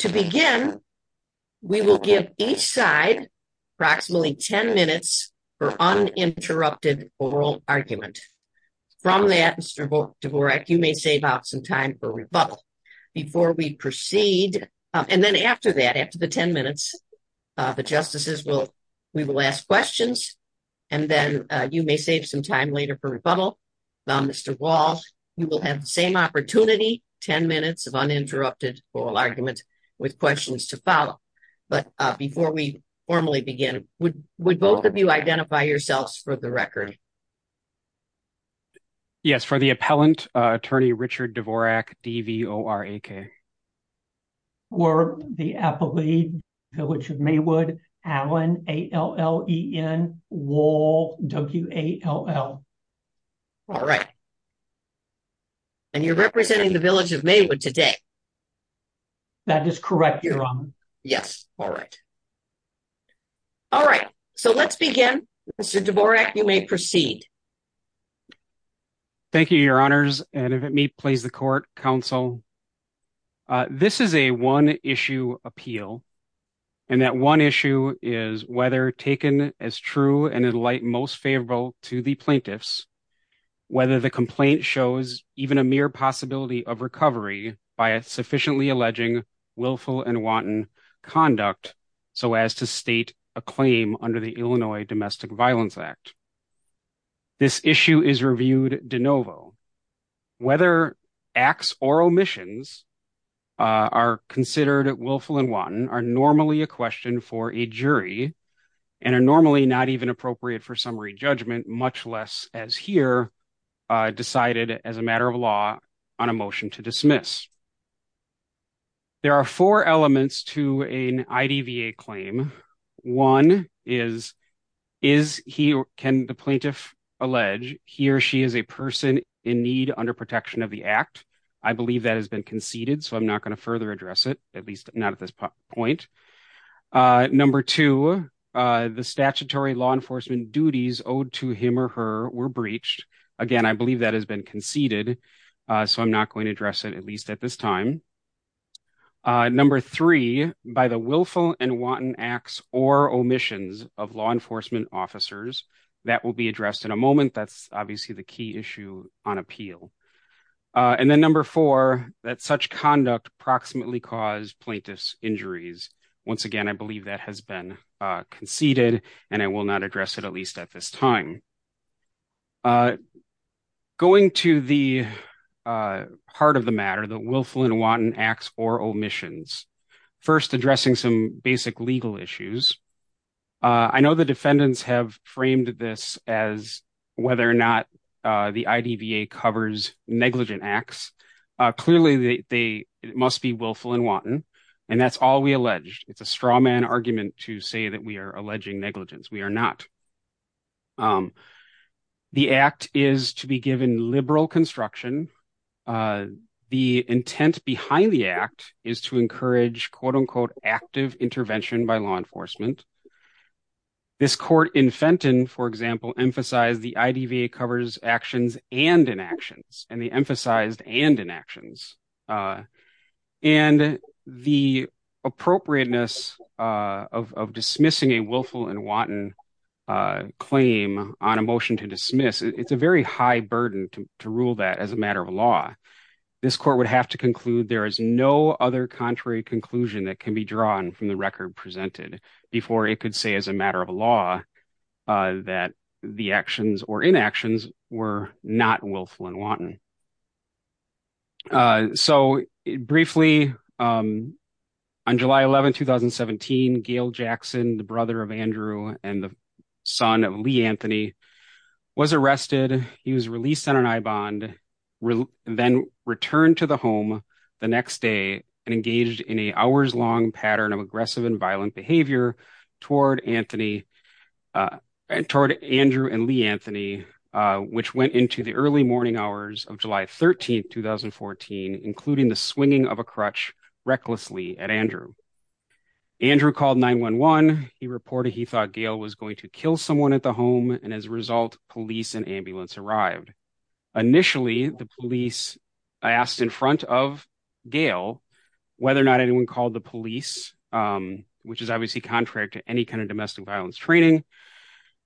To begin, we will give each side approximately 10 minutes for uninterrupted oral argument. From that, Mr. Dvorak, you may save out some time for rebuttal. Before we proceed, and then after that, after the 10 minutes, the justices will, we will ask questions, and then you may save some time later for rebuttal. Mr. Walsh, you will have the same opportunity, 10 minutes of uninterrupted oral argument with questions to follow. But before we formally begin, would both of you identify yourselves for the record? Yes, for the appellant, attorney Richard Dvorak, D-V-O-R-A-K. For the appellee, Village of Maywood, Allen, A-L-L-E-N, Wall, W-A-L-L. All right, and you're representing the Village of Maywood today? That is correct, Your Honor. Yes, all right. All right, so let's begin. Mr. Dvorak, you may proceed. Thank you, Your Honors, and if it may please the court, counsel. This is a one-issue appeal, and that one issue is whether taken as true and in light most favorable to the plaintiffs, whether the complaint shows even a mere possibility of recovery by a sufficiently alleging willful and wanton conduct so as to state a claim under the Illinois Domestic Violence Act. This issue is reviewed de novo. Whether acts or omissions are considered willful and wanton are normally a question for a jury and are normally not even appropriate for summary judgment, much less as here decided as a matter of law on a motion to dismiss. There are four elements to plaintiff allege. He or she is a person in need under protection of the act. I believe that has been conceded, so I'm not going to further address it, at least not at this point. Number two, the statutory law enforcement duties owed to him or her were breached. Again, I believe that has been conceded, so I'm not going to address it, at least at this time. Number three, by the willful and wanton acts or omissions of law enforcement officers. That will be addressed in a moment. That's obviously the key issue on appeal. And then number four, that such conduct approximately caused plaintiffs injuries. Once again, I believe that has been conceded, and I will not address it, at least at this time. Going to the heart of the matter, the willful and wanton acts or omissions. First, addressing some basic legal issues. I know the defendants have framed this as whether or not the IDVA covers negligent acts. Clearly, they must be willful and wanton, and that's all we allege. It's a straw man argument to say that we are alleging negligence. We are not. The act is to be given liberal construction. The intent behind the act is to encourage, quote unquote, active intervention by law enforcement. This court in Fenton, for example, emphasized the IDVA covers actions and inactions, and they emphasized and inactions. And the appropriateness of dismissing a willful and wanton claim on a motion to dismiss, it's a very high burden to rule that as a matter of law. This court would have to conclude there is no other contrary conclusion that can be drawn from the record presented before it could say as a matter of law that the actions or inactions were not willful and wanton. So, briefly, on July 11, 2017, Gail Jackson, the brother of Andrew and the son of Lee Anthony, was arrested. He was released on an I-bond, then returned to the home the next day and engaged in an hours-long pattern of aggressive and violent behavior toward Andrew and Lee Anthony, which included the swinging of a crutch recklessly at Andrew. Andrew called 911. He reported he thought Gail was going to kill someone at the home, and as a result, police and ambulance arrived. Initially, the police asked in front of Gail whether or not anyone called the police, which is obviously contrary to any kind of domestic violence training,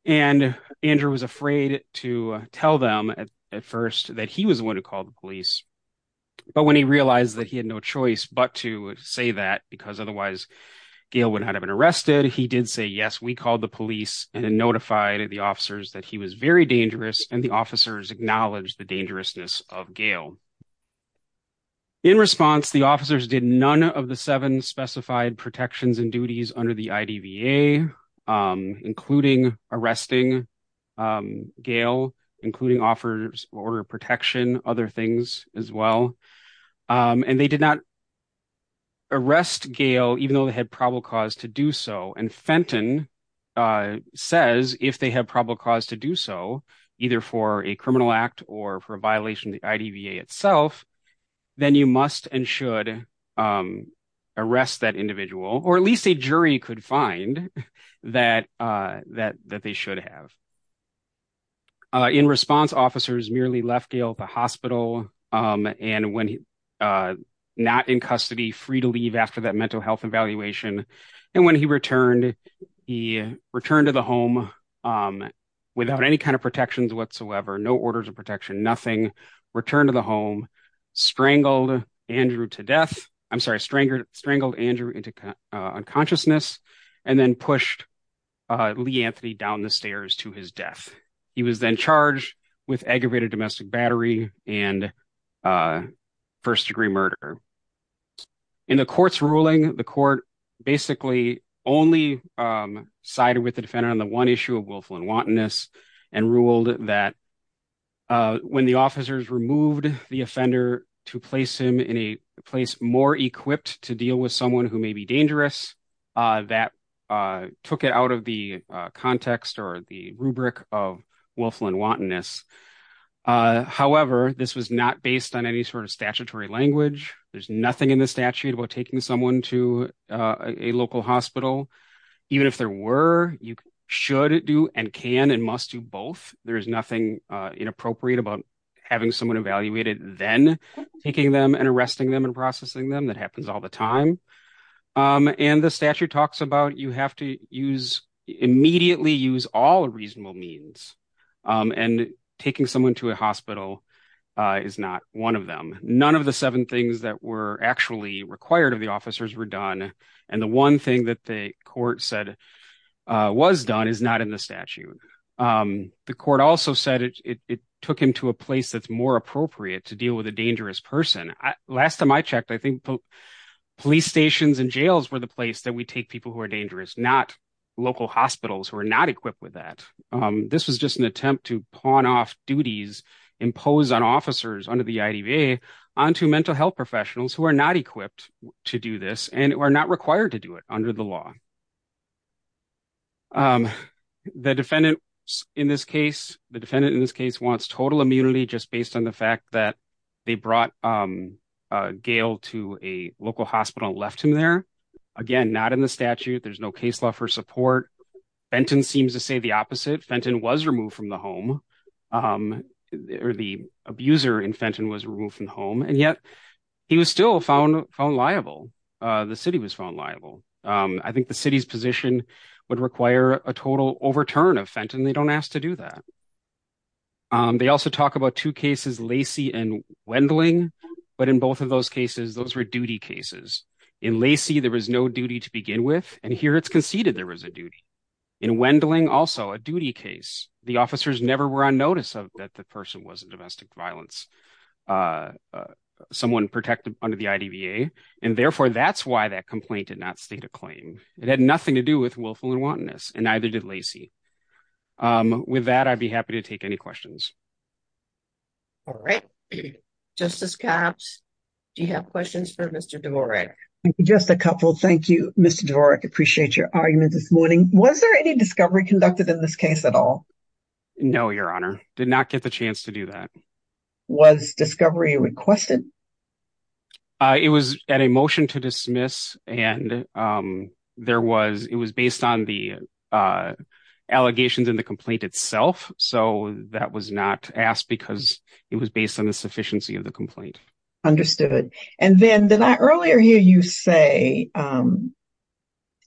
and Andrew was afraid to tell them at first that he was the one who called the police. But when he realized that he had no choice but to say that because otherwise Gail would not have been arrested, he did say, yes, we called the police and notified the officers that he was very dangerous, and the officers acknowledged the dangerousness of Gail. In response, the officers did none of the seven specified protections and duties under the IDVA, including arresting Gail, including offers of order of protection, other things as well, and they did not arrest Gail even though they had probable cause to do so, and Fenton says if they have probable cause to do so, either for a criminal act or for a violation of the IDVA itself, then you must and should arrest that individual, or at least a jury could find that they should have. In response, officers merely left Gail at the hospital and when not in custody, free to leave after that mental health evaluation, and when he returned, he returned to the home without any kind of protections whatsoever, no orders of protection, nothing, returned to the home, strangled Andrew to death, I'm sorry, strangled Andrew into unconsciousness, and then he was then charged with aggravated domestic battery and first-degree murder. In the court's ruling, the court basically only sided with the defendant on the one issue of willful and wantonness and ruled that when the officers removed the offender to place him in a place more equipped to deal with someone who may be dangerous, that took it out of the context or the rubric of willful and wantonness. However, this was not based on any sort of statutory language. There's nothing in the statute about taking someone to a local hospital. Even if there were, you should do and can and must do both. There is nothing inappropriate about having someone evaluated, then taking them and arresting them and processing them, that happens all the reasonable means, and taking someone to a hospital is not one of them. None of the seven things that were actually required of the officers were done, and the one thing that the court said was done is not in the statute. The court also said it took him to a place that's more appropriate to deal with a dangerous person. Last time I checked, I think police stations and jails were the place that we take people who are dangerous, not local hospitals who are not equipped with that. This was just an attempt to pawn off duties imposed on officers under the IDVA onto mental health professionals who are not equipped to do this and who are not required to do it under the law. The defendant in this case wants total immunity just based on the fact that they brought Gail to a local hospital and left him there. Again, not in the statute. There's no case law for support. Fenton seems to say the opposite. Fenton was removed from the home, or the abuser in Fenton was removed from home, and yet he was still found liable. The city was found liable. I think the city's position would require a total overturn of Fenton. They don't ask to do that. They also talk about two cases, Lacey and Wendling, but in both of those cases, those were duty cases. In Lacey, there was no duty to begin with, and here it's conceded there was a duty. In Wendling, also a duty case. The officers never were on notice of that the person was a domestic violence, someone protected under the IDVA, and therefore that's why that complaint did not state a claim. It had nothing to do with willful and wantonness, and neither did Lacey. With that, I'd be happy to take any questions. All right. Justice Copps, do you have questions for Mr. Dvorak? Just a couple. Thank you, Mr. Dvorak. Appreciate your argument this morning. Was there any discovery conducted in this case at all? No, Your Honor. Did not get the chance to do that. Was discovery requested? It was at a motion to dismiss, and it was based on the allegations in the complaint itself, so that was not asked because it was based on the sufficiency of the complaint. Understood. And then did I earlier hear you say, and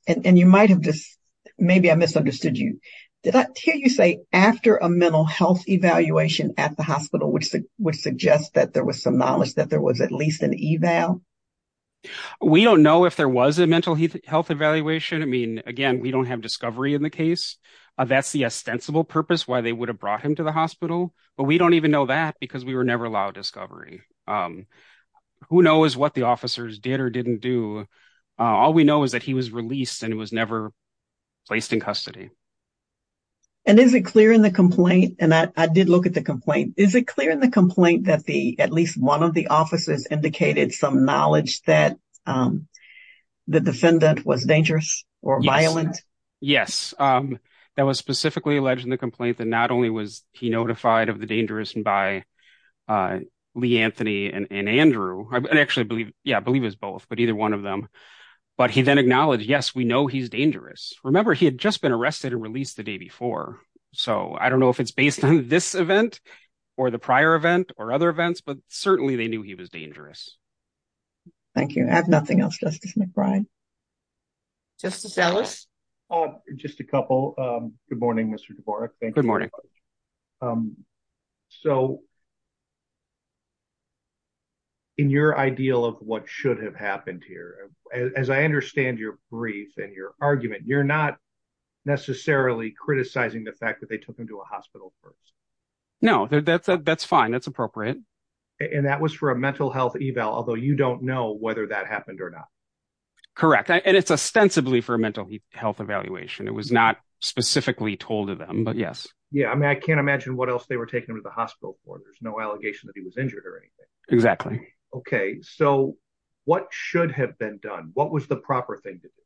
you might have just, maybe I misunderstood you, did I hear you say after a mental health evaluation at the hospital, which would suggest that there was some knowledge that there was at least an eval? We don't know if there was a mental health evaluation. I mean, again, we don't have in the case. That's the ostensible purpose why they would have brought him to the hospital, but we don't even know that because we were never allowed discovery. Who knows what the officers did or didn't do? All we know is that he was released, and he was never placed in custody. And is it clear in the complaint, and I did look at the complaint, is it clear in the complaint that at least one of the officers indicated some knowledge that the defendant was dangerous or violent? Yes. That was specifically alleged in the complaint that not only was he notified of the dangerous by Lee Anthony and Andrew, I actually believe, yeah, I believe it was both, but either one of them, but he then acknowledged, yes, we know he's dangerous. Remember, he had just been arrested and released the day before, so I don't know if it's based on this event or the prior event or other events, but certainly they knew he was dangerous. Thank you. I have nothing else, Justice McBride. Justice Ellis. Just a couple. Good morning, Mr. Dvorak. Good morning. So in your ideal of what should have happened here, as I understand your brief and your argument, you're not necessarily criticizing the fact that they took him to a hospital first. No, that's fine. That's appropriate. And that was for a mental health eval, although you don't know whether that happened or not. Correct. And it's ostensibly for a mental health evaluation. It was not specifically told to them, but yes. Yeah. I mean, I can't imagine what else they were taking him to the hospital for. There's no allegation that he was injured or anything. Exactly. Okay. So what should have been done? What was the proper thing to do?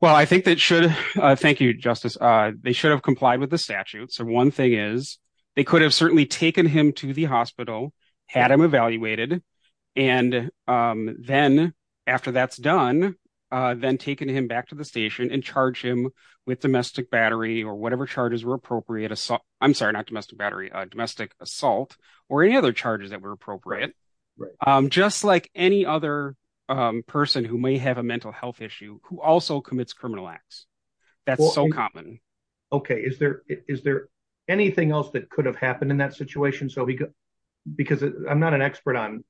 Well, I think that should, thank you, Justice. They should have complied with the statute. So one thing is they could have certainly taken him to the hospital, had him evaluated. And then after that's done, then taken him back to the station and charge him with domestic battery or whatever charges were appropriate. I'm sorry, not domestic battery, domestic assault or any other charges that were appropriate. Just like any other person who may have a mental health issue, who also commits criminal acts. That's so common. Okay. Is there anything else that could have happened in that situation? Because I'm not an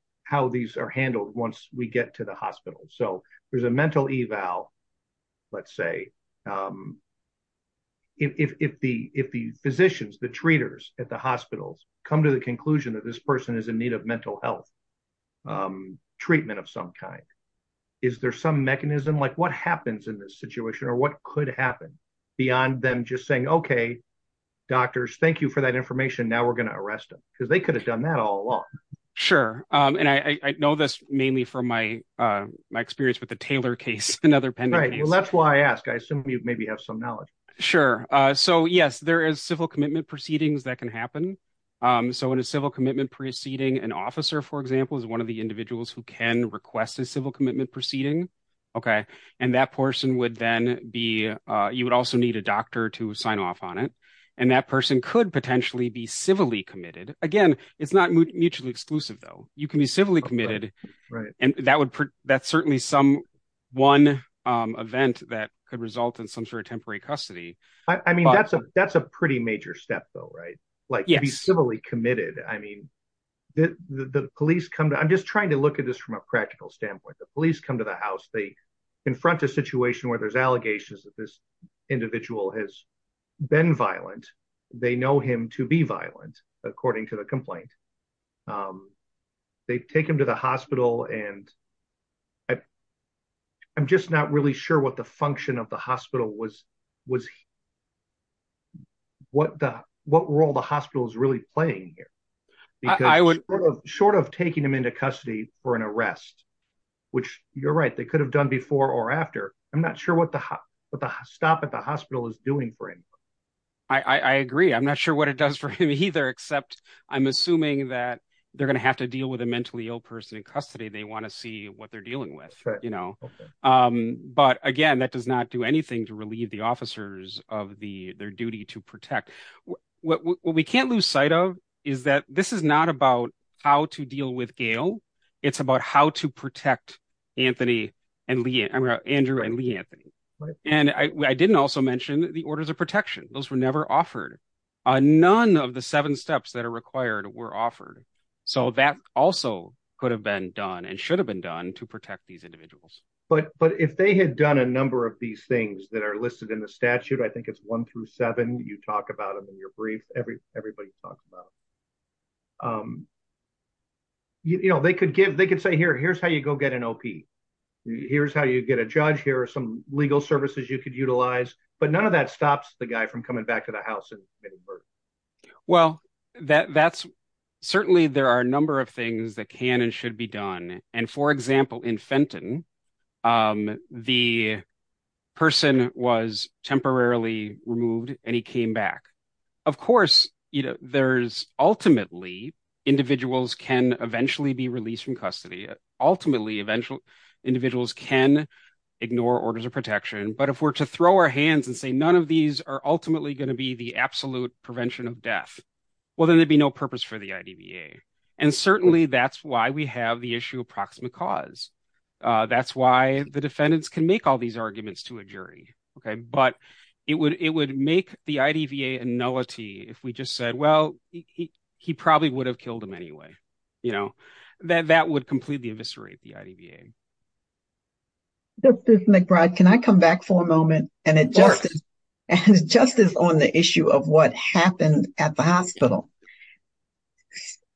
once we get to the hospital. So there's a mental eval, let's say. If the physicians, the treaters at the hospitals come to the conclusion that this person is in need of mental health treatment of some kind, is there some mechanism, like what happens in this situation or what could happen beyond them just saying, okay, doctors, thank you for that information. Now we're going to arrest them because they could have done that all along. Sure. And I know this mainly from my experience with the Taylor case and other pending. Right. Well, that's why I ask. I assume you maybe have some knowledge. Sure. So yes, there is civil commitment proceedings that can happen. So in a civil commitment proceeding, an officer, for example, is one of the individuals who can request a civil commitment proceeding. Okay. And that person would then be, you would also need a doctor to sign off on it. And that person could potentially be civilly committed. Again, it's not mutually exclusive though. You can be civilly committed and that would, that's certainly some one event that could result in some sort of temporary custody. I mean, that's a, that's a pretty major step though, right? Like civilly committed. I mean, the police come to, I'm just trying to look at this from a practical standpoint, the police come to the house, they confront a situation where there's allegations that this was a crime. They take him to the hospital. And I, I'm just not really sure what the function of the hospital was, was what the, what role the hospital is really playing here. Because I would short of taking him into custody for an arrest, which you're right. They could have done before or after. I'm not sure what the, what the stop at the hospital is doing for him. I agree. I'm not sure what it does for him either, except I'm assuming that they're going to have to deal with a mentally ill person in custody. They want to see what they're dealing with, you know. But again, that does not do anything to relieve the officers of the, their duty to protect. What we can't lose sight of is that this is not about how to deal with Gail. It's about how to Those were never offered. None of the seven steps that are required were offered. So that also could have been done and should have been done to protect these individuals. But, but if they had done a number of these things that are listed in the statute, I think it's one through seven, you talk about them in your brief, every, everybody talks about. You know, they could give, they could say, here, here's how you go get an OP. Here's how you get a judge. Here are some legal services you could utilize. But none of that stops the guy from coming back to the house and committing murder. Well, that's certainly, there are a number of things that can and should be done. And for example, in Fenton, the person was temporarily removed and he came back. Of course, you know, there's ultimately, individuals can eventually be released from custody. Ultimately, eventually, individuals can ignore orders of protection. But if we're to throw our hands and say, none of these are ultimately going to be the absolute prevention of death, well, then there'd be no purpose for the IDVA. And certainly that's why we have the issue of proximate cause. That's why the defendants can make all these arguments to a jury. Okay. But it would, it would make the IDVA a nullity if we just said, well, he probably would have killed him anyway. You know, that, that would completely eviscerate the IDVA. Justice McBride, can I come back for a moment? And it just, and justice on the issue of what happened at the hospital.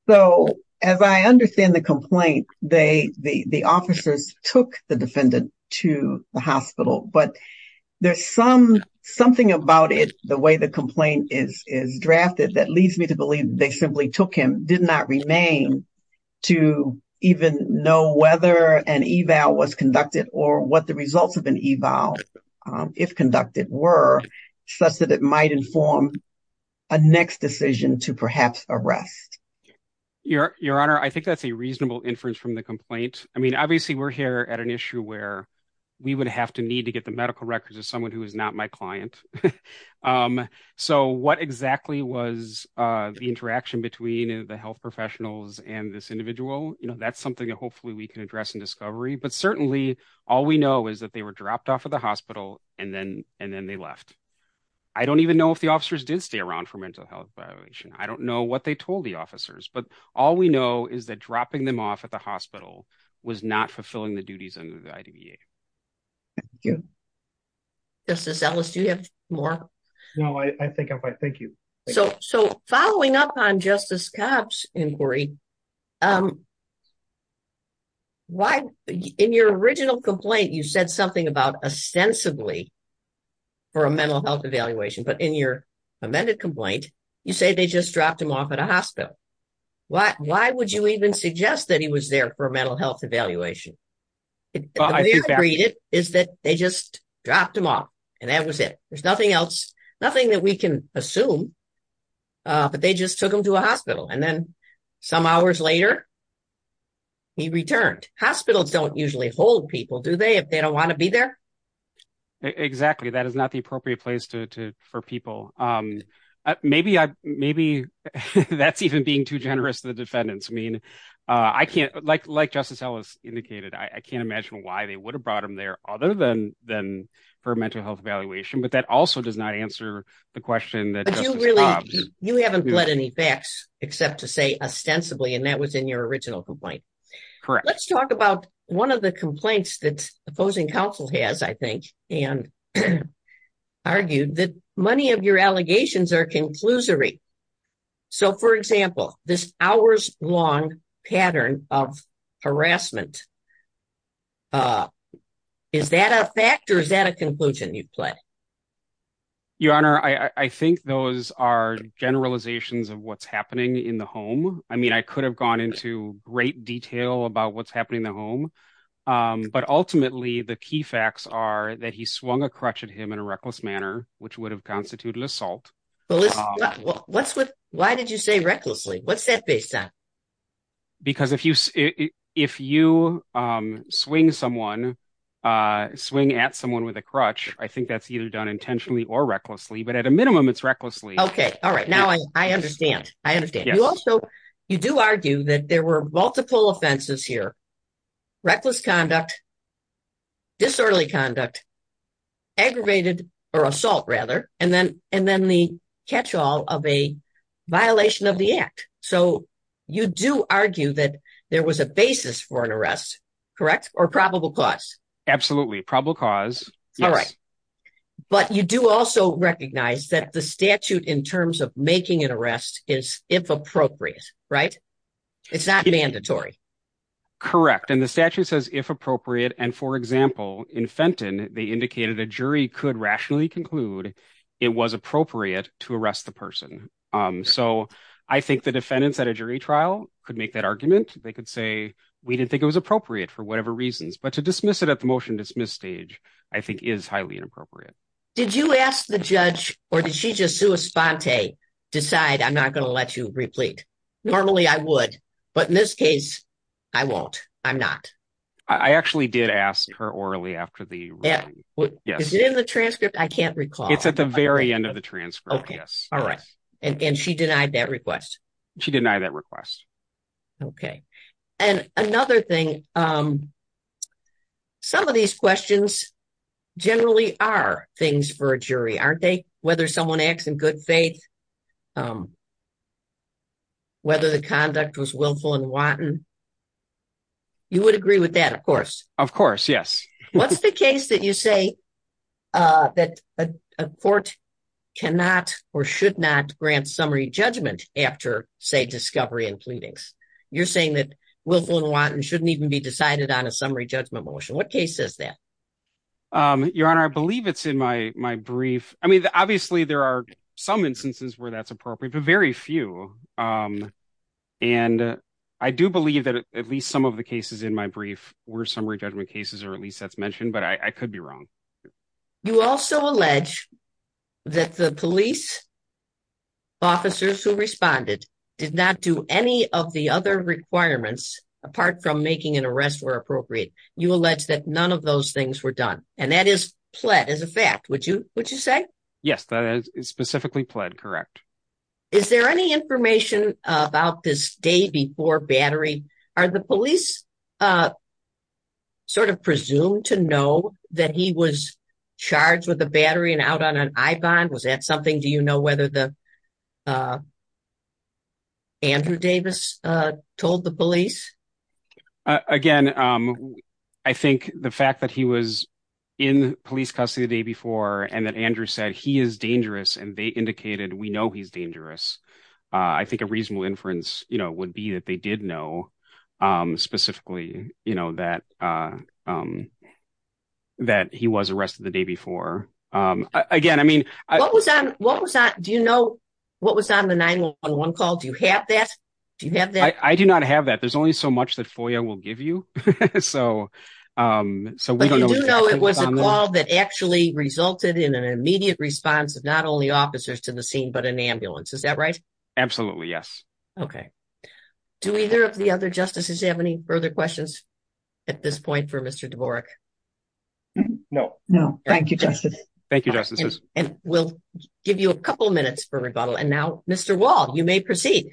So, as I understand the complaint, they, the, the officers took the defendant to the hospital, but there's some, something about it, the way the complaint is, is drafted that leads me to believe they simply took him, did not remain to even know whether an eval was conducted or what the results of an eval, if conducted, were such that it might inform a next decision to perhaps arrest. Your, your honor, I think that's a reasonable inference from the complaint. I mean, obviously we're here at an issue where we would have to need to get the medical records of someone who is not my client. So what exactly was the interaction between the health professionals and this individual? You know, that's something that hopefully we can address in discovery, but certainly all we know is that they were dropped off at the hospital and then, and then they left. I don't even know if the officers did stay around for mental health violation. I don't know what they told the officers, but all we know is that dropping them off at the hospital was not fulfilling the duties under the IDVA. Thank you. Justice Ellis, do you have more? No, I think I'm fine. Thank you. So, so following up on Justice Kapp's inquiry, why, in your original complaint, you said something about ostensibly for a mental health evaluation, but in your amended complaint, you say they just dropped him off at a hospital. Why, why would you even suggest that he was there for a mental health evaluation? Is that they just dropped him off and that was it. There's nothing else, nothing that we can assume, but they just took him to a hospital and then some hours later, he returned. Hospitals don't usually hold people, do they, if they don't want to be there? Exactly. That is not the appropriate place to, to, for people. Maybe I, maybe that's even being too generous to the defendants. I mean, I can't, like, like Justice Ellis indicated, I can't imagine why they would have brought him there other than, than for a mental health evaluation, but that also does not answer the question that Justice Robbs. But you really, you haven't pled any facts except to say ostensibly, and that was in your original complaint. Correct. Let's talk about one of the complaints that opposing counsel has, I think, and argued that many of your allegations are conclusory. So for example, this hours long pattern of harassment, is that a fact or is that a Your Honor, I think those are generalizations of what's happening in the home. I mean, I could have gone into great detail about what's happening in the home. But ultimately, the key facts are that he swung a crutch at him in a reckless manner, which would have constituted an assault. What's with, why did you say recklessly? What's that based on? Because if you, if you swing someone, swing at someone with a crutch, I think that's either intentionally or recklessly, but at a minimum, it's recklessly. Okay. All right. Now I understand. I understand. You also, you do argue that there were multiple offenses here, reckless conduct, disorderly conduct, aggravated or assault rather, and then, and then the catch all of a violation of the act. So you do argue that there was a basis for an arrest, correct? Or probable cause. Absolutely probable cause. All right. But you do also recognize that the statute in terms of making an arrest is if appropriate, right? It's not mandatory. Correct. And the statute says if appropriate. And for example, in Fenton, they indicated a jury could rationally conclude it was appropriate to arrest the person. So I think the defendants at a jury trial could make that argument. They could say, we didn't think it was appropriate for whatever reasons, but to dismiss it at the motion dismiss stage, I think is highly inappropriate. Did you ask the judge or did she just do a spontane decide? I'm not going to let you replete. Normally I would, but in this case, I won't. I'm not. I actually did ask her orally after the. Yeah. Is it in the transcript? I can't recall. It's at the very end of the transcript. Yes. All right. And she denied that request. She denied that request. Okay. And another thing, some of these questions generally are things for a jury, aren't they? Whether someone acts in good faith, whether the conduct was willful and wanton. You would agree with that, of course. Of course. Yes. What's the case that you say that a court cannot or should not grant summary judgment after, say, discovery and pleadings? You're saying that willful and wanton shouldn't even be decided on a summary judgment motion. What case is that? Your Honor, I believe it's in my brief. I mean, obviously there are some instances where that's appropriate, but very few. And I do believe that at least some of the cases in my brief were summary judgment cases, or at least that's mentioned, but I could be wrong. You also allege that the police officers who responded did not do any of the other requirements apart from making an arrest where appropriate. You allege that none of those things were done. And that is pled as a fact, would you say? Yes, that is specifically pled, correct. Is there any information about this day before battery? Are the police sort of presumed to know that he was charged with a battery and out on an eye bond? Was that something? Do you know whether the Andrew Davis told the police? Again, I think the fact that he was in police custody the day before and that Andrew said he is dangerous and they indicated we know he's dangerous. I think a reasonable inference would be that they did know specifically that he was arrested the day before. Do you know what was on the 911 call? Do you have that? I do not have that. There's only so much that FOIA will give you. But you do know it was a call that actually resulted in an immediate response of not only to the scene but an ambulance, is that right? Absolutely, yes. Okay. Do either of the other justices have any further questions at this point for Mr. Dvorak? No. No. Thank you, Justices. Thank you, Justices. And we'll give you a couple minutes for rebuttal. And now, Mr. Wall, you may proceed.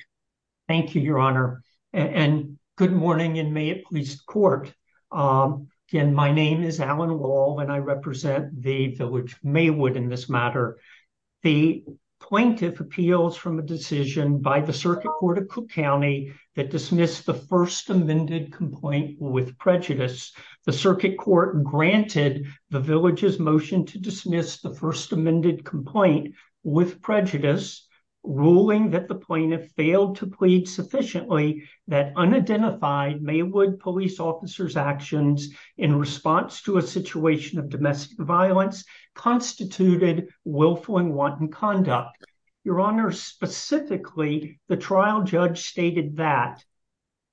Thank you, Your Honor. And good morning in Mayotte Police Court. Again, my name is Alan Wall and I represent the village of Maywood in this matter. The plaintiff appeals from a decision by the Circuit Court of Cook County that dismissed the first amended complaint with prejudice. The Circuit Court granted the village's motion to dismiss the first amended complaint with prejudice, ruling that the plaintiff failed to plead sufficiently that unidentified Maywood police officers' actions in response to a situation of domestic violence constituted willful and wanton conduct. Your Honor, specifically, the trial judge stated that,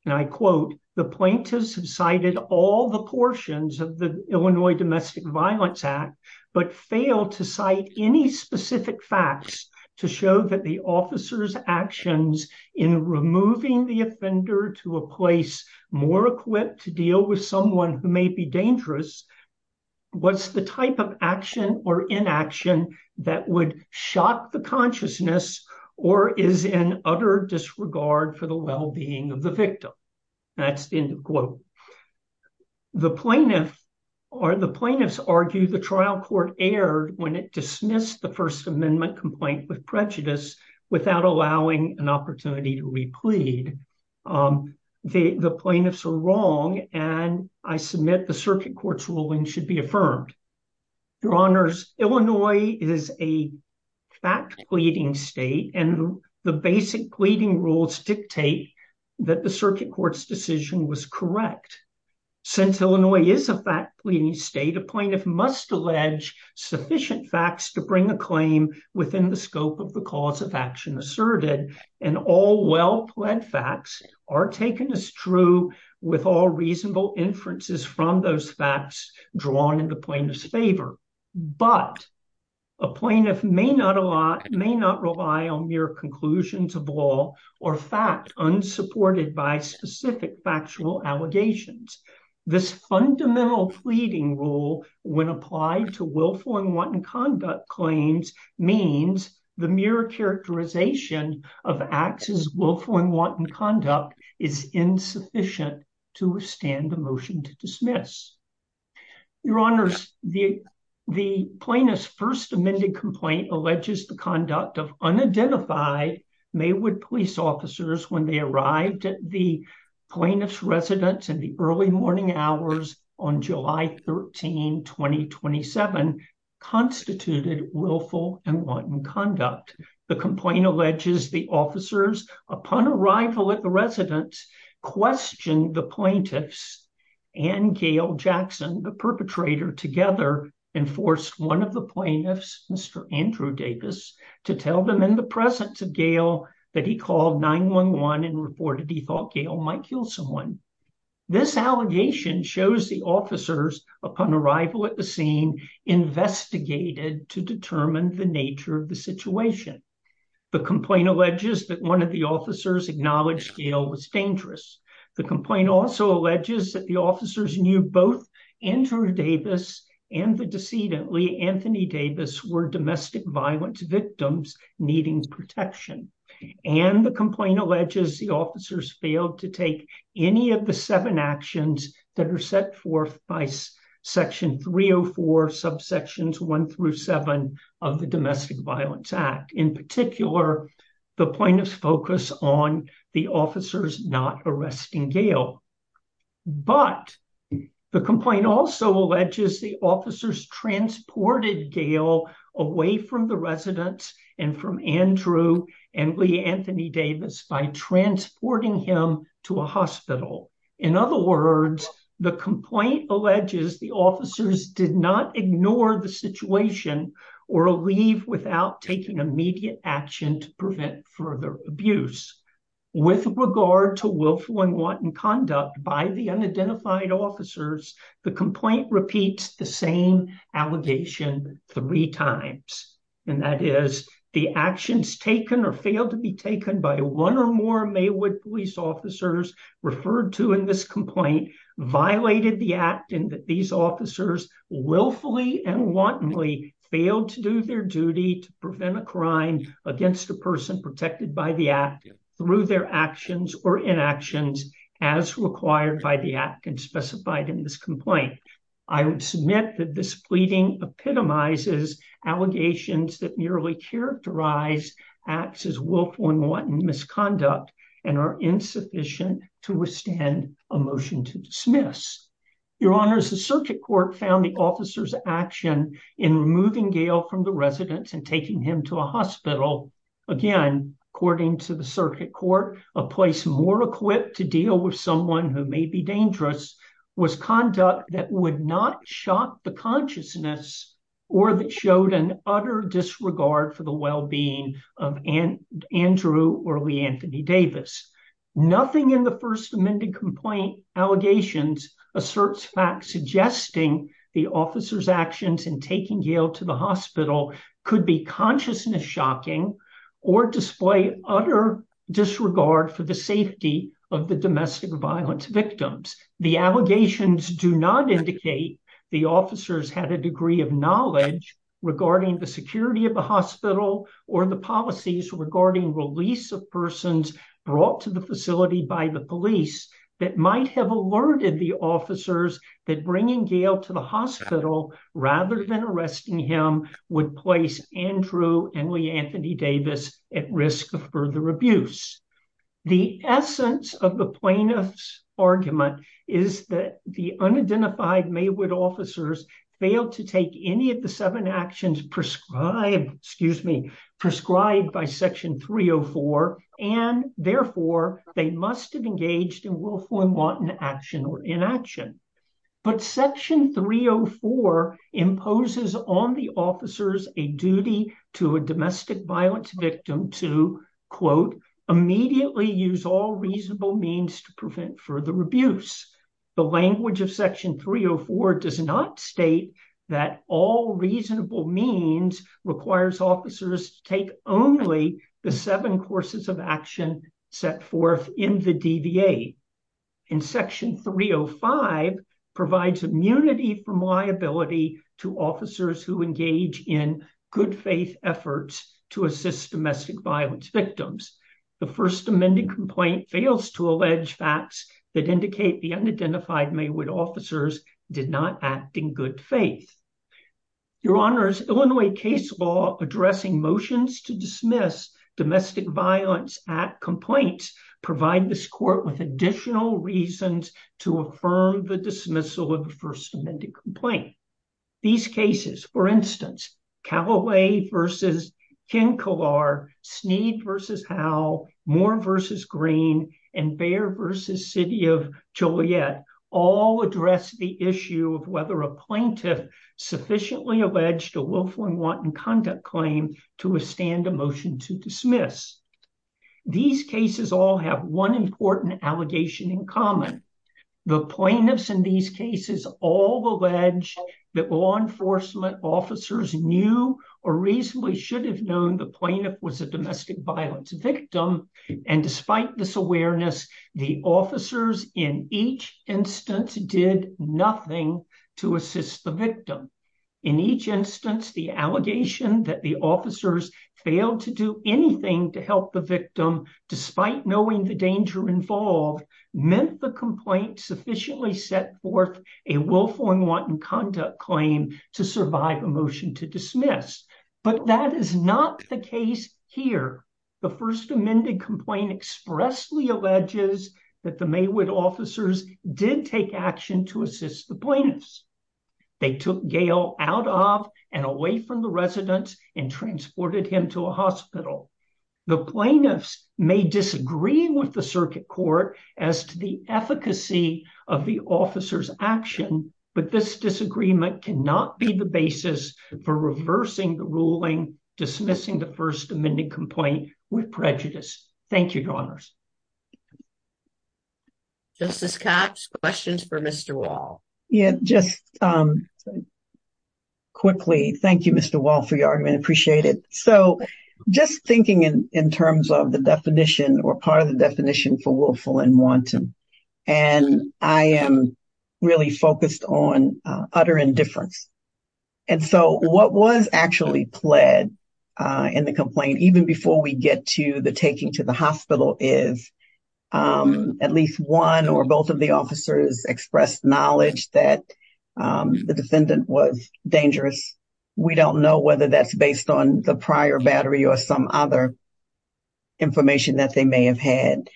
and I quote, the plaintiffs have cited all the portions of the Illinois Domestic Violence Act but failed to cite any specific facts to show that the officers' actions in removing the offender to a place more equipped to deal with someone who may be dangerous was the type of action or inaction that would shock the consciousness or is in utter disregard for the well-being of the victim. That's the end of the quote. The plaintiffs argue the trial court erred when it dismissed the first amendment complaint with prejudice without allowing an opportunity to replead. The plaintiffs are wrong and I submit the Circuit Court's ruling should be affirmed. Your Honors, Illinois is a fact pleading state and the basic pleading rules dictate that the Circuit Court's decision was correct. Since Illinois is a fact pleading state, a plaintiff must allege sufficient facts to bring a claim within the scope of the cause of action asserted and all well-pled facts are taken as true with all reasonable inferences from those facts drawn in the plaintiff's favor. But a plaintiff may not rely on mere conclusions of law or fact unsupported by specific factual allegations. This fundamental pleading rule when applied to willful and wanton conduct claims means the mere characterization of acts as willful and wanton conduct is insufficient to withstand the motion to dismiss. Your Honors, the plaintiff's amended complaint alleges the conduct of unidentified Maywood police officers when they arrived at the plaintiff's residence in the early morning hours on July 13, 2027, constituted willful and wanton conduct. The complaint alleges the officers upon arrival at the residence questioned the plaintiffs and Gail Jackson, the perpetrator, together enforced one of the plaintiffs, Mr. Andrew Davis, to tell them in the presence of Gail that he called 911 and reported he thought Gail might kill someone. This allegation shows the officers upon arrival at the scene investigated to determine the nature of the situation. The complaint alleges that one of the officers acknowledged Gail was dangerous. The complaint also alleges that the officers knew both Andrew Davis and the decedent Lee Anthony Davis were domestic violence victims needing protection. And the complaint alleges the officers failed to take any of the seven actions that are set forth by Section 304, subsections one through seven of the Domestic Violence Act. In particular, the plaintiff's on the officers not arresting Gail. But the complaint also alleges the officers transported Gail away from the residence and from Andrew and Lee Anthony Davis by transporting him to a hospital. In other words, the complaint alleges the officers did not ignore the situation or leave without taking immediate action to prevent further abuse. With regard to willful and wanton conduct by the unidentified officers, the complaint repeats the same allegation three times. And that is the actions taken or failed to be taken by one or more Maywood police officers referred to in this complaint violated the act and that these officers willfully and wantonly failed to do their duty to prevent a crime against a person protected by the act through their actions or inactions as required by the act and specified in this complaint. I would submit that this pleading epitomizes allegations that merely characterize acts as misconduct and are insufficient to withstand a motion to dismiss. Your honors, the circuit court found the officer's action in removing Gail from the residence and taking him to a hospital. Again, according to the circuit court, a place more equipped to deal with someone who may be dangerous was conduct that would not shock the consciousness or that showed an utter disregard for the well-being of Andrew or Lee Anthony Davis. Nothing in the first amended complaint allegations asserts facts suggesting the officer's actions in taking Gail to the hospital could be consciousness shocking or display utter disregard for the safety of the domestic violence victims. The allegations do not indicate the officers had a degree of knowledge regarding the security of the hospital or the policies regarding release of persons brought to the facility by the police that might have alerted the officers that bringing Gail to the hospital rather than arresting him would place Andrew and Lee Anthony Davis at risk of further abuse. The essence of the plaintiff's argument is that the unidentified Maywood officers failed to take any of the seven actions prescribed, excuse me, prescribed by section 304 and therefore they must have engaged in willful and wanton action or inaction. But section 304 imposes on the officers a duty to a domestic violence victim to, quote, immediately use all that all reasonable means requires officers to take only the seven courses of action set forth in the DVA. And section 305 provides immunity from liability to officers who engage in good faith efforts to assist domestic violence victims. The first amended complaint fails to allege facts that indicate the unidentified Maywood officers did not act in good faith. Your honors, Illinois case law addressing motions to dismiss domestic violence at complaints provide this court with additional reasons to affirm the dismissal of the first amended complaint. These cases, for instance, Callaway v. Kinkelar, Snead v. Howell, Moore v. Green, and Bair v. City of Joliet all address the issue of whether a plaintiff sufficiently alleged a willful and wanton conduct claim to withstand a motion to dismiss. These cases all have one important allegation in common. The plaintiffs in these cases all allege that law enforcement officers knew or reasonably should have known the plaintiff was a domestic violence victim. And despite this awareness, the officers in each instance did nothing to assist the victim. In each instance, the allegation that the officers failed to do anything to help the victim, despite knowing the danger involved, meant the complaint sufficiently set forth a willful and wanton conduct claim to survive a motion to dismiss. But that is not the case here. The first amended complaint expressly alleges that the Maywood officers did take action to assist the plaintiffs. They took Gail out of and away from the residence and transported him to a hospital. The plaintiffs may disagree with the circuit court as to the efficacy of the officer's action, but this disagreement cannot be the basis for reversing the ruling, dismissing the first amended complaint with prejudice. Thank you, Your Honors. Justice Cox, questions for Mr. Wall. Yeah, just quickly, thank you, Mr. Wall, for your argument. Appreciate it. So just thinking in terms of the definition or part of the definition for willful and wanton, and I am really focused on utter indifference. And so what was actually pled in the complaint, even before we get to the taking to the hospital, is at least one or both of the officers expressed knowledge that the defendant was dangerous. We don't know whether that's based on the prior battery or some other information that they may have had.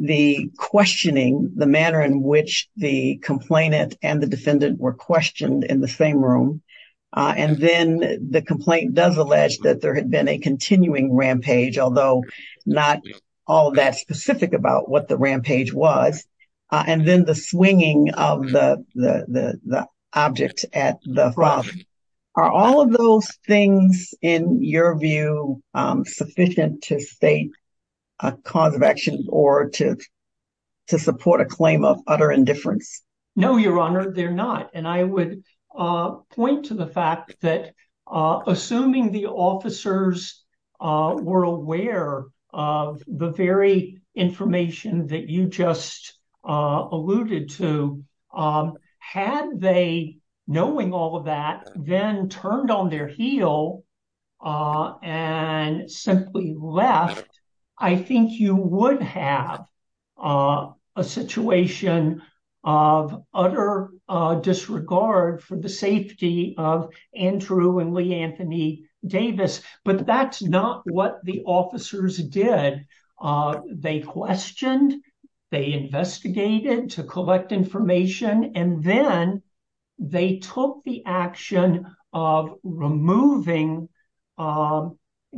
The questioning, the manner in which the complainant and the defendant were questioned in the same room, and then the complaint does allege that there had been a continuing rampage, although not all that specific about what the rampage was. And then the swinging of the object at the front. Are all of those things, in your view, sufficient to state a cause of action or to support a claim of utter indifference? No, Your Honor, they're not. And I would point to the fact that assuming the officers were aware of the very information that you just alluded to, had they, knowing all of that, then turned on their heel and simply left, I think you would have a situation of utter disregard for the safety of Andrew and Lee Anthony Davis. But that's not what the officers did. They questioned, they investigated to collect information, and then they took the action of removing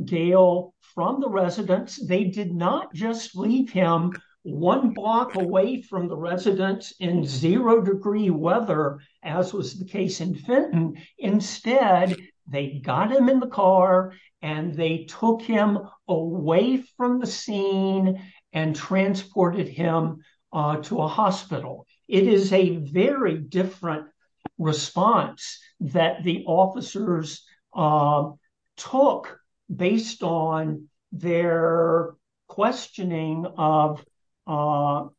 Gail from the residence. They did not just leave him one block away from the residence in zero degree weather, as was the case in Fenton. Instead, they got him in the car and they took him away from the scene and transported him to a hospital. It is a very different response that the officers took based on their questioning of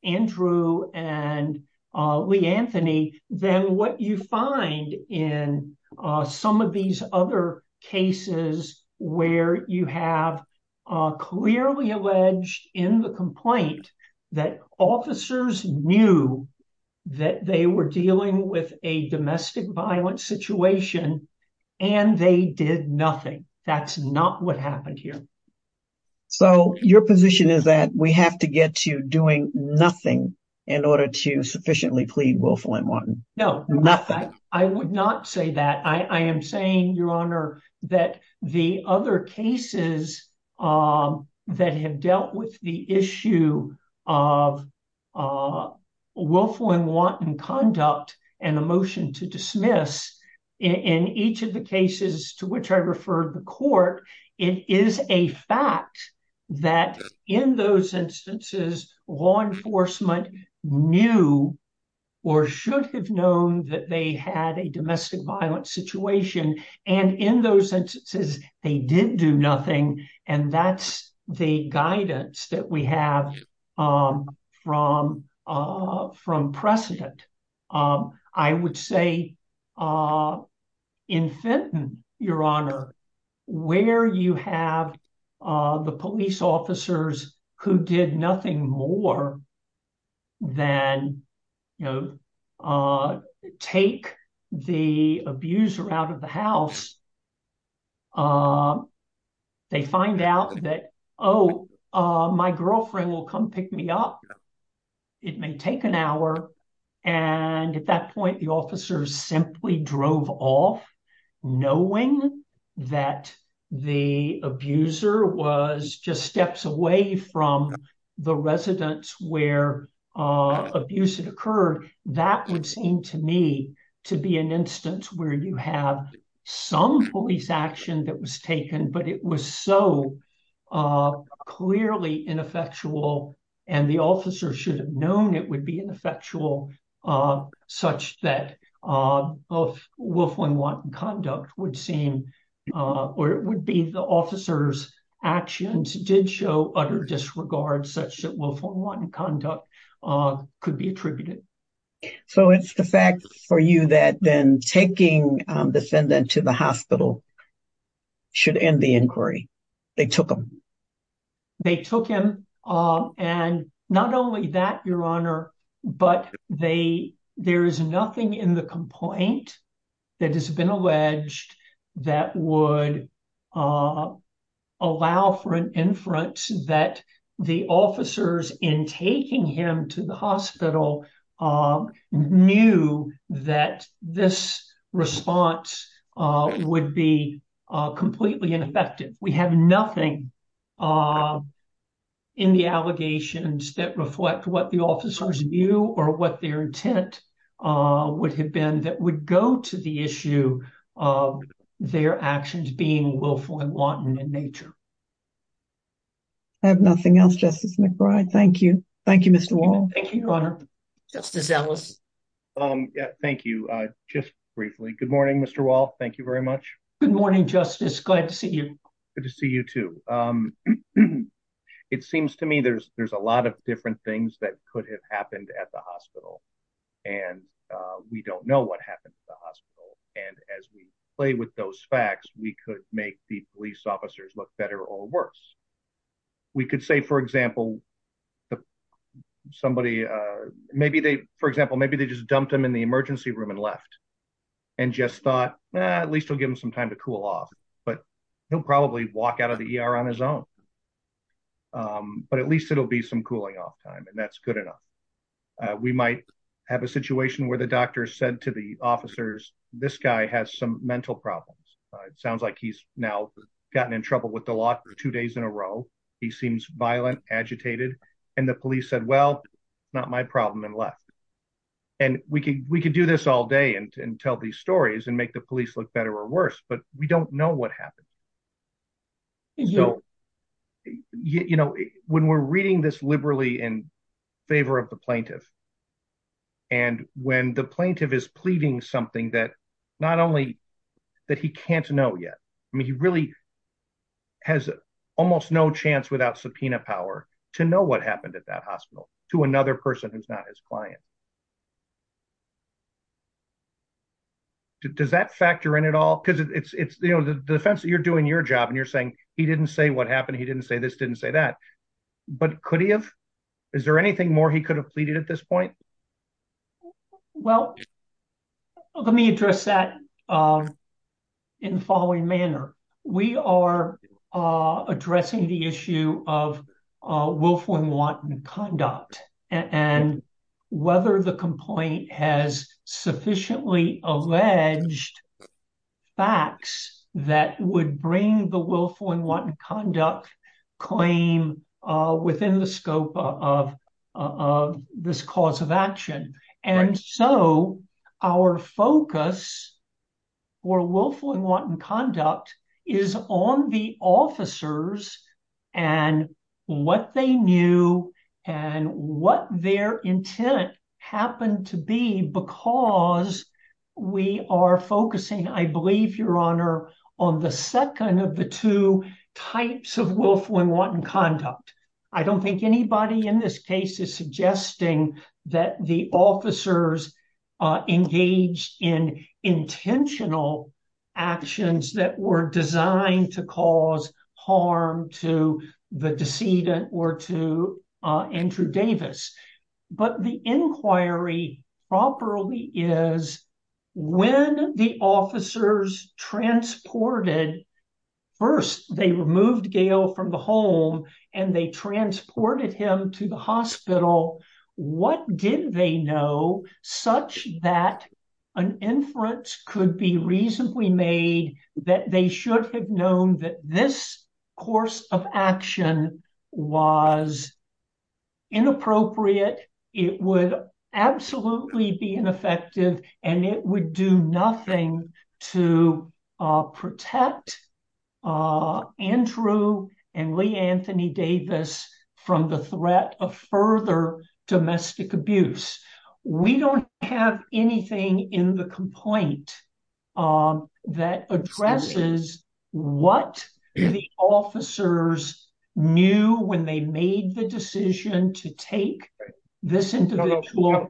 Andrew and Lee Anthony than what you find in some of these other cases where you have clearly alleged in the complaint that officers knew that they were dealing with a domestic violence situation and they did nothing. That's not what happened here. So your position is that we have to get to doing nothing in order to sufficiently plead willful and wanton? No, nothing. I would not say that. I am saying, Your Honor, that the other cases that have dealt with the issue of willful and wanton conduct and a motion to dismiss, in each of the cases to which I referred the court, it is a fact that in those instances, law enforcement knew or should have known that they had a domestic violence situation. And in those instances, they did do nothing. And that's the guidance that we have from precedent. I would say in Fenton, Your Honor, where you have the police officers who did nothing more than take the abuser out of the house, they find out that, oh, my girlfriend will come pick me up. It may take an hour. And at that point, the officers simply drove off, knowing that the abuser was just steps away from the residence where abuse had occurred. That would seem to me to be an instance where you have some police action that was taken, but it was so clearly ineffectual. And the officer should have known it would be ineffectual, such that willful and wanton conduct would seem, or it would be the officer's actions did show utter disregard such that willful and wanton conduct could be attributed. So it's the fact for you that then taking the defendant to the hospital should end the inquiry. They took him. They took him. And not only that, Your Honor, but there is nothing in the complaint that has been alleged that would allow for an inference that the officers in taking him to the completely ineffective. We have nothing in the allegations that reflect what the officers view or what their intent would have been that would go to the issue of their actions being willful and wanton in nature. I have nothing else, Justice McBride. Thank you. Thank you, Mr. Wall. Thank you, Your Honor. Justice Ellis. Thank you. Just briefly. Good morning, Mr. Wall. Thank you very much. Good morning, Justice. Glad to see you. Good to see you, too. It seems to me there's a lot of different things that could have happened at the hospital, and we don't know what happened at the hospital. And as we play with those facts, we could make the police officers look better or worse. We could say, for example, somebody, maybe they, for example, maybe they just dumped him in emergency room and left and just thought, at least we'll give him some time to cool off. But he'll probably walk out of the ER on his own. But at least it'll be some cooling off time, and that's good enough. We might have a situation where the doctor said to the officers, this guy has some mental problems. It sounds like he's now gotten in trouble with the law for two days in a row. He seems violent, agitated. And the police said, well, not my problem and left. And we could do this all day and tell these stories and make the police look better or worse, but we don't know what happened. So, you know, when we're reading this liberally in favor of the plaintiff, and when the plaintiff is pleading something that not only that he can't know yet, I mean, he really has almost no chance without subpoena power to know what happened at hospital to another person who's not his client. Does that factor in at all? Because it's, you know, the defense that you're doing your job and you're saying he didn't say what happened. He didn't say this, didn't say that. But could he have? Is there anything more he could have pleaded at this point? Well, let me address that in the following manner. We are addressing the issue of willful and wanton conduct and whether the complaint has sufficiently alleged facts that would bring the willful and wanton conduct claim within the scope of this cause of action. And so our focus for willful and wanton conduct is on the officers and what they knew and what their intent happened to be because we are focusing, I believe, Your Honor, on the second of the two types of willful and wanton conduct. I don't think anybody in this case is suggesting that the officers engaged in intentional actions that were designed to cause harm to the decedent or to Andrew Davis. But the inquiry properly is when the officers transported, first they removed Gail from the home and they transported him to the hospital, what did they know such that an inference could be reasonably made that they should have known that this course of action was inappropriate. It would absolutely be ineffective and it would do domestic abuse. We don't have anything in the complaint that addresses what the officers knew when they made the decision to take this individual.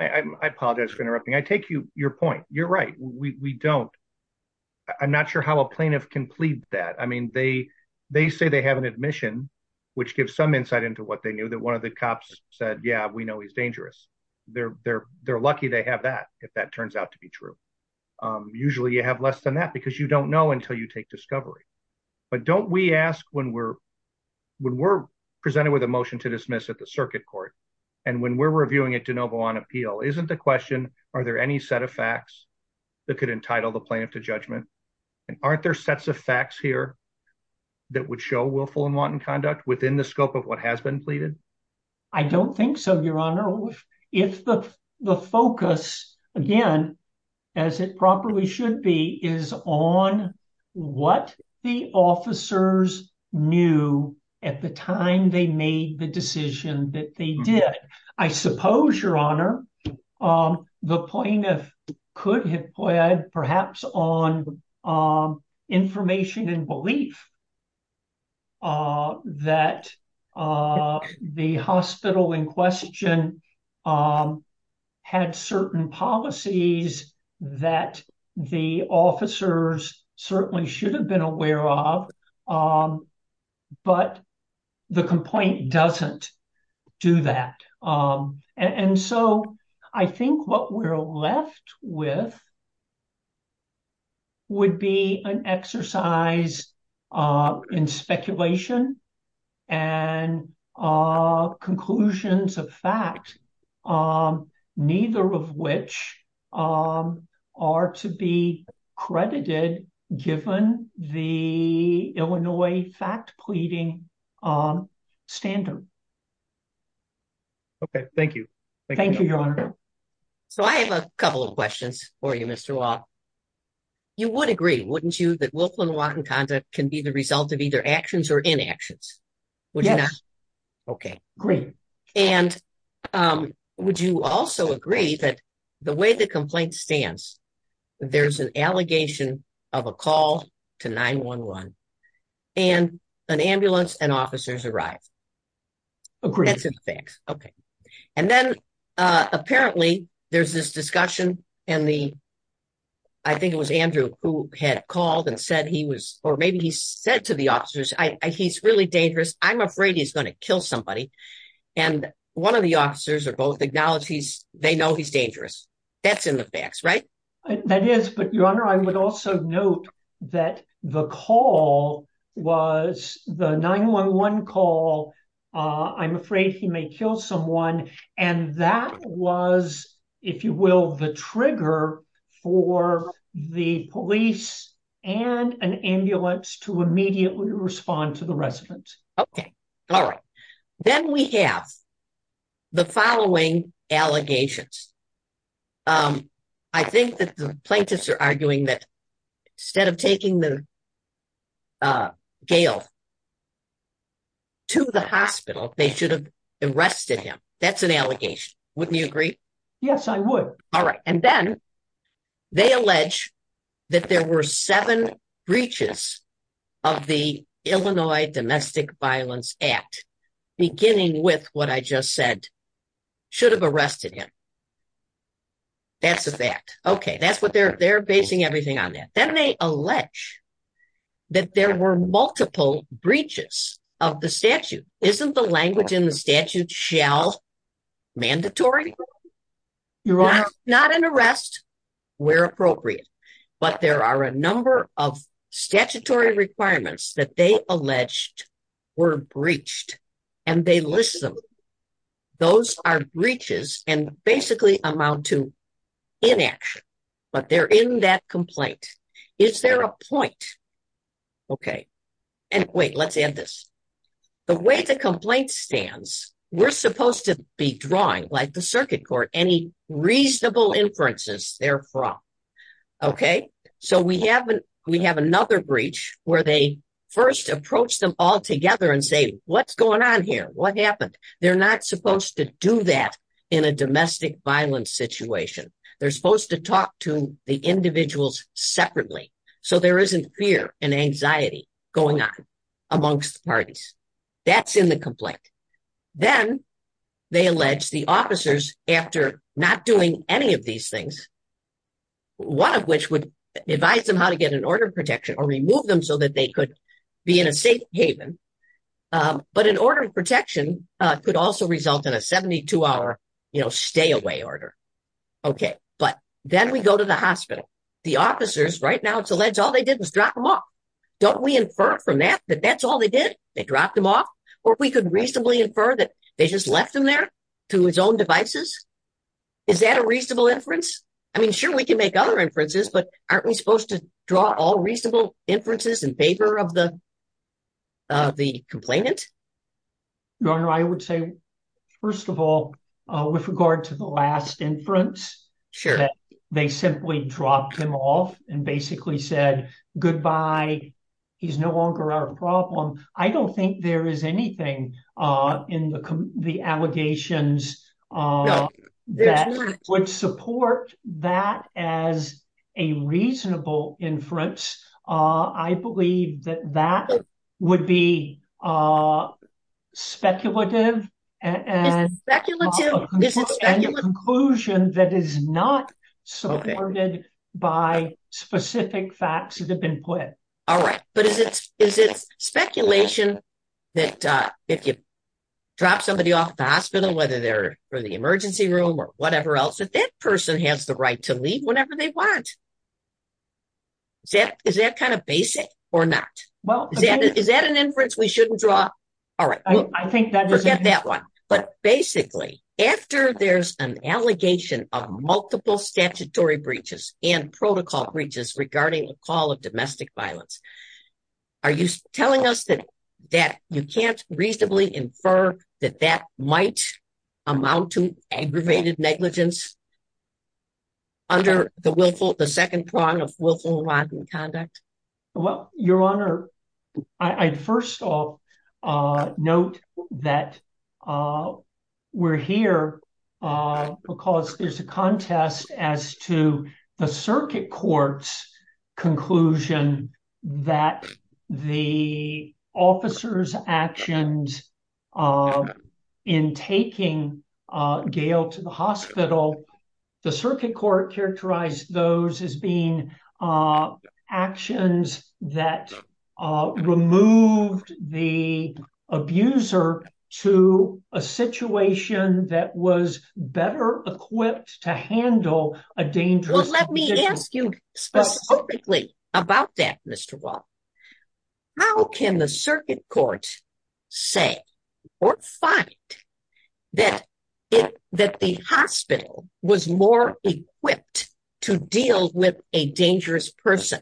I apologize for interrupting. I take you your point. You're right. We don't. I'm not sure how a plaintiff can plead that. I mean, they say they have an admission which gives some insight into what they knew that one of the cops said, yeah, we know he's dangerous. They're lucky they have that if that turns out to be true. Usually you have less than that because you don't know until you take discovery. But don't we ask when we're presented with a motion to dismiss at the circuit court and when we're reviewing it de novo on appeal, isn't the question, are there any set of facts that could entitle the plaintiff to judgment? And aren't there sets of facts here that would show willful and wanton conduct within the scope of what has been pleaded? I don't think so, your honor. If the focus again, as it properly should be, is on what the officers knew at the time they made the decision that they did. I suppose, your honor, the plaintiff could have pled perhaps on information and belief that the hospital in question had certain policies that the officers certainly should have been aware of, but the complaint doesn't do that. And so I think what we're left with would be an exercise in speculation and conclusions of fact, neither of which are to be credited given the Illinois fact pleading standard. Okay, thank you. Thank you, your honor. So I have a couple of questions for you, Mr. Watt. You would agree, wouldn't you, that willful and wanton conduct can be the result of either actions? Yes. Okay, great. And would you also agree that the way the complaint stands, there's an allegation of a call to 911 and an ambulance and officers arrive? Agreed. Okay. And then apparently, there's this discussion and I think it was Andrew who had I'm afraid he's going to kill somebody. And one of the officers are both acknowledge he's they know he's dangerous. That's in the facts, right? That is but your honor, I would also note that the call was the 911 call. I'm afraid he may kill someone. And that was, if you will, the trigger for the police and an ambulance to immediately respond to the residents. Okay. All right. Then we have the following allegations. I think that the plaintiffs are arguing that instead of taking the gale to the hospital, they should have arrested him. That's an allegation. Wouldn't you agree? Yes, I would. All right. And then they allege that there were seven breaches of the Illinois Domestic Violence Act, beginning with what I just said, should have arrested him. That's a fact. Okay, that's what they're they're basing everything on that. Then they allege that there were multiple breaches of the statute, isn't the mandatory? You're not not an arrest, where appropriate. But there are a number of statutory requirements that they alleged were breached. And they listen. Those are breaches and basically amount to inaction. But they're in that complaint. Is there a point? Okay. And wait, let's add this. The way the complaint stands, we're supposed to be drawing like the circuit court any reasonable inferences therefrom. Okay, so we haven't, we have another breach where they first approach them all together and say, what's going on here? What happened? They're not supposed to do that. In a domestic violence situation. They're supposed to talk to the going on amongst parties. That's in the complaint. Then they allege the officers after not doing any of these things, one of which would advise them how to get an order of protection or remove them so that they could be in a safe haven. But an order of protection could also result in a 72 hour, you know, stay away order. Okay, but then we go to the hospital, the officers right now, it's alleged all they did was drop them off. Don't we infer from that, that that's all they did. They dropped them off. Or we could reasonably infer that they just left them there to his own devices. Is that a reasonable inference? I mean, sure, we can make other inferences. But aren't we supposed to draw all reasonable inferences in favor of the complainant? Your Honor, I would say, first of all, with regard to the last inference, sure, they simply dropped him off and basically said, Goodbye, he's no longer our problem. I don't think there is anything in the allegations that would support that as a reasonable inference. I believe that that would be a speculative and speculative conclusion that is not supported by specific facts that have been put. All right. But is it is it speculation that if you drop somebody off the hospital, whether they're for the emergency room or whatever else that that person has the right to leave whenever they want? Is that is that kind of basic or not? Well, is that an inference we shouldn't draw? All right. I think that forget that one. But basically, after there's an allegation of multiple statutory breaches and protocol breaches regarding a call of domestic violence, are you telling us that that you can't reasonably infer that that might amount to aggravated negligence? Under the willful, the second prong of willful wrongdoing conduct? Well, Your Honor, I first of all, note that we're here because there's a contest as to the circuit court's conclusion that the officer's actions in taking Gail to the hospital, the circuit court characterized those as being actions that removed the abuser to a situation that was better equipped to handle a dangerous. Let me ask you specifically about that, Mr. Find that that the hospital was more equipped to deal with a dangerous person.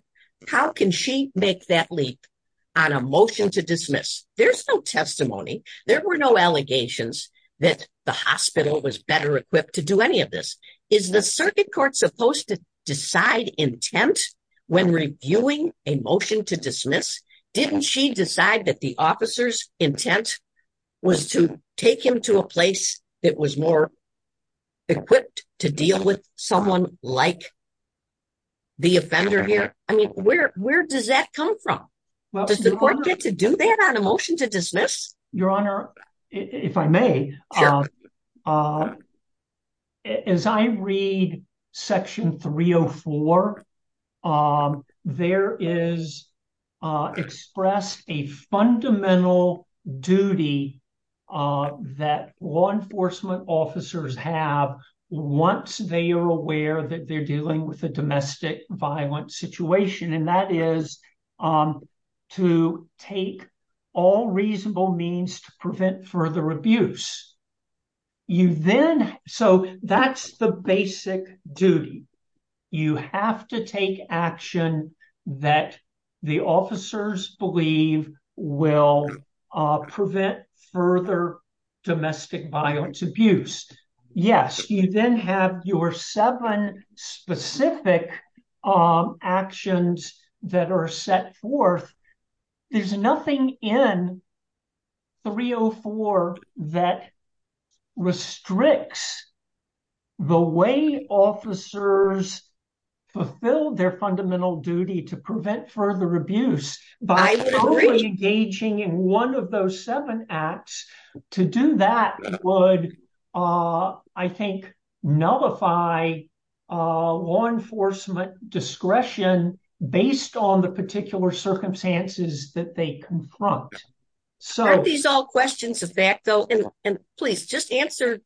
How can she make that leap on a motion to dismiss? There's no testimony. There were no allegations that the hospital was better equipped to do any of this. Is the circuit court supposed to decide intent when reviewing a motion to dismiss? Didn't she decide that the officer's take him to a place that was more equipped to deal with someone like the offender here? I mean, where does that come from? Does the court get to do that on a motion to dismiss? Your Honor, if I may, as I read section 304, there is expressed a fundamental duty that law enforcement officers have once they are aware that they're dealing with a domestic violent situation, and that is to take all reasonable means to prevent further abuse. So that's the basic duty. You have to take action that the officers believe will prevent further domestic violence abuse. Yes, you then have your seven specific actions that are set forth. There's nothing in 304 that restricts the way officers fulfill their fundamental duty to prevent further domestic violence abuse. That would, I think, nullify law enforcement discretion based on the particular circumstances that they confront. Aren't these all questions of fact, though? And please, just answer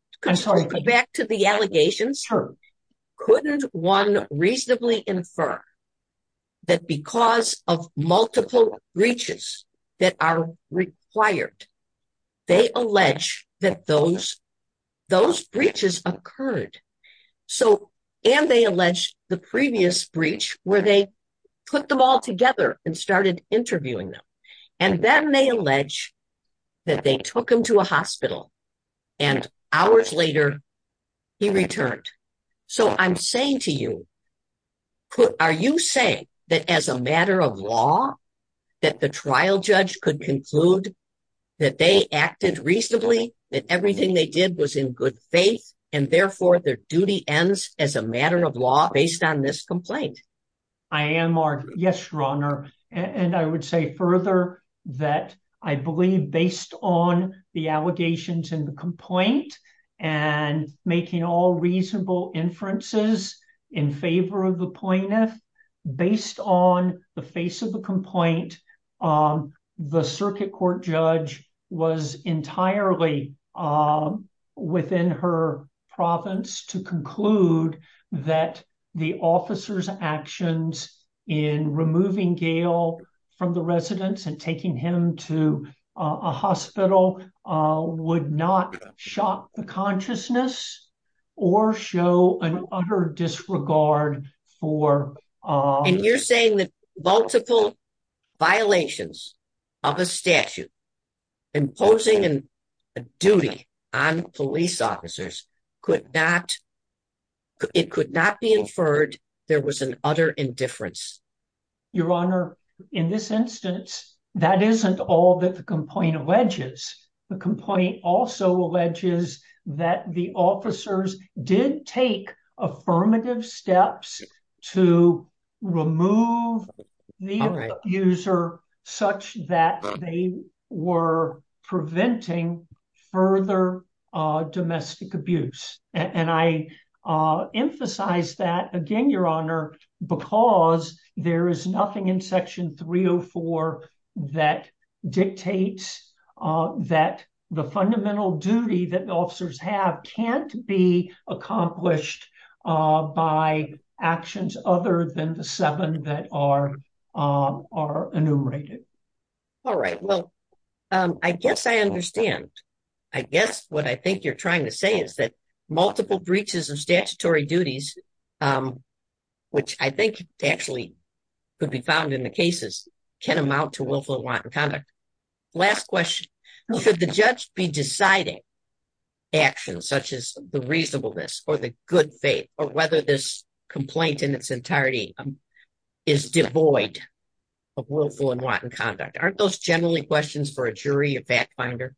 back to the allegations. Couldn't one reasonably infer that because of multiple breaches that are required, they allege that those breaches occurred? And they allege the previous breach where they put them all together and started interviewing them. And then they allege that they took him to a hospital, and hours later, he returned. So I'm saying to you, are you saying that as a matter of law, that the trial judge could conclude that they acted reasonably, that everything they did was in good faith, and therefore their duty ends as a matter of law based on this complaint? I am. Yes, Your Honor. And I would say further that I believe based on the allegations in the complaint, and making all reasonable inferences in favor of the plaintiff, based on the face of the complaint, the circuit court judge was entirely within her province to conclude that the officer's actions in removing Gail from the residence and taking him to a hospital would not shock the consciousness or show an utter disregard for... And you're saying that multiple violations of a statute imposing a duty on police officers could not, it could not be inferred there was an utter indifference? Your Honor, in this instance, that isn't all that the complaint alleges. The complaint also alleges that the officers did take affirmative steps to remove the abuser such that they were preventing further domestic abuse. And I emphasize that again, Your Honor, because there is nothing in Section 304 that dictates that the fundamental duty that the officers have can't be accomplished by actions other than the seven that are enumerated. All right. Well, I guess I understand. I guess what I think you're trying to say is that multiple breaches of statutory duties, which I think actually could be found in the cases, can amount to willful and wanton conduct. Last question, should the judge be deciding actions such as the reasonableness or the good faith or whether this complaint in its entirety is devoid of willful and wanton conduct? Aren't those generally questions for a jury, a fact finder?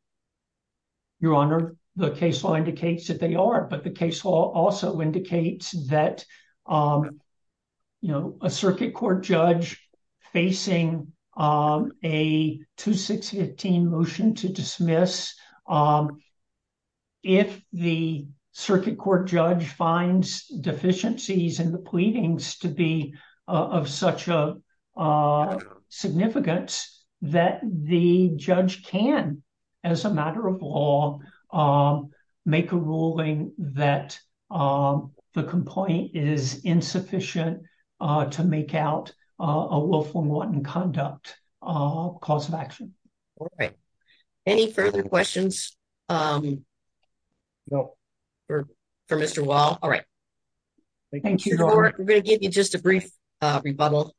Your Honor, the case law indicates that they are, but the case law also indicates that a circuit court judge facing a 2615 motion to dismiss, if the circuit court judge finds deficiencies in the pleadings to be of such a that the judge can, as a matter of law, make a ruling that the complaint is insufficient to make out a willful and wanton conduct cause of action. All right. Any further questions for Mr. Wall? All right. Thank you. We're going to give you just a brief rebuttal.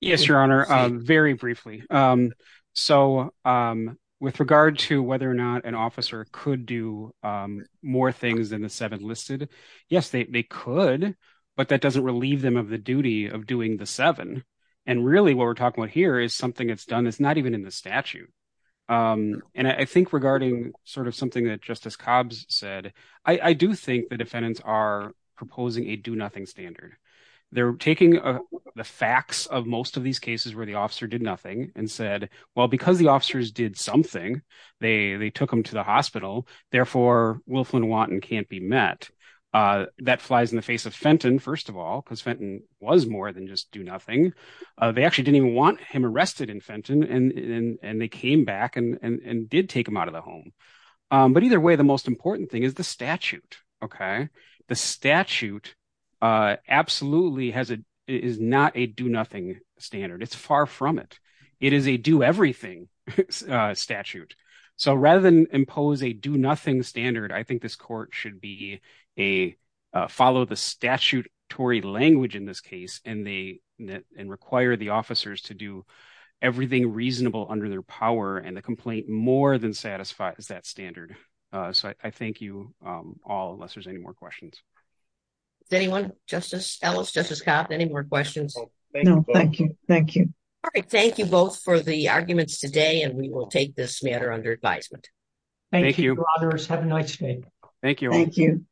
Yes, Your Honor, very briefly. So with regard to whether or not an officer could do more things than the seven listed, yes, they could, but that doesn't relieve them of the duty of doing the seven. And really what we're talking about here is something that's done, it's not even in the statute. And I think regarding sort of something that Justice Cobbs said, I do think the defendants are proposing a do nothing standard. They're taking the facts of most of these cases where the officer did nothing and said, well, because the officers did something, they took them to the hospital, therefore willful and wanton can't be met. That flies in the face of Fenton, first of all, because Fenton was more than just do nothing. They actually didn't even want him arrested in Fenton and they came back and did take him out of the home. But either way, most important thing is the statute. The statute absolutely is not a do nothing standard. It's far from it. It is a do everything statute. So rather than impose a do nothing standard, I think this court should follow the statutory language in this case and require the officers to do everything reasonable under their power. And the complaint more than satisfies that standard. So I thank you all, unless there's any more questions. Does anyone, Justice Ellis, Justice Cobbs, any more questions? No, thank you. Thank you. All right. Thank you both for the arguments today. And we will take this matter under advisement. Thank you. Thank you, brothers. Have a nice day. Thank you. Thank you.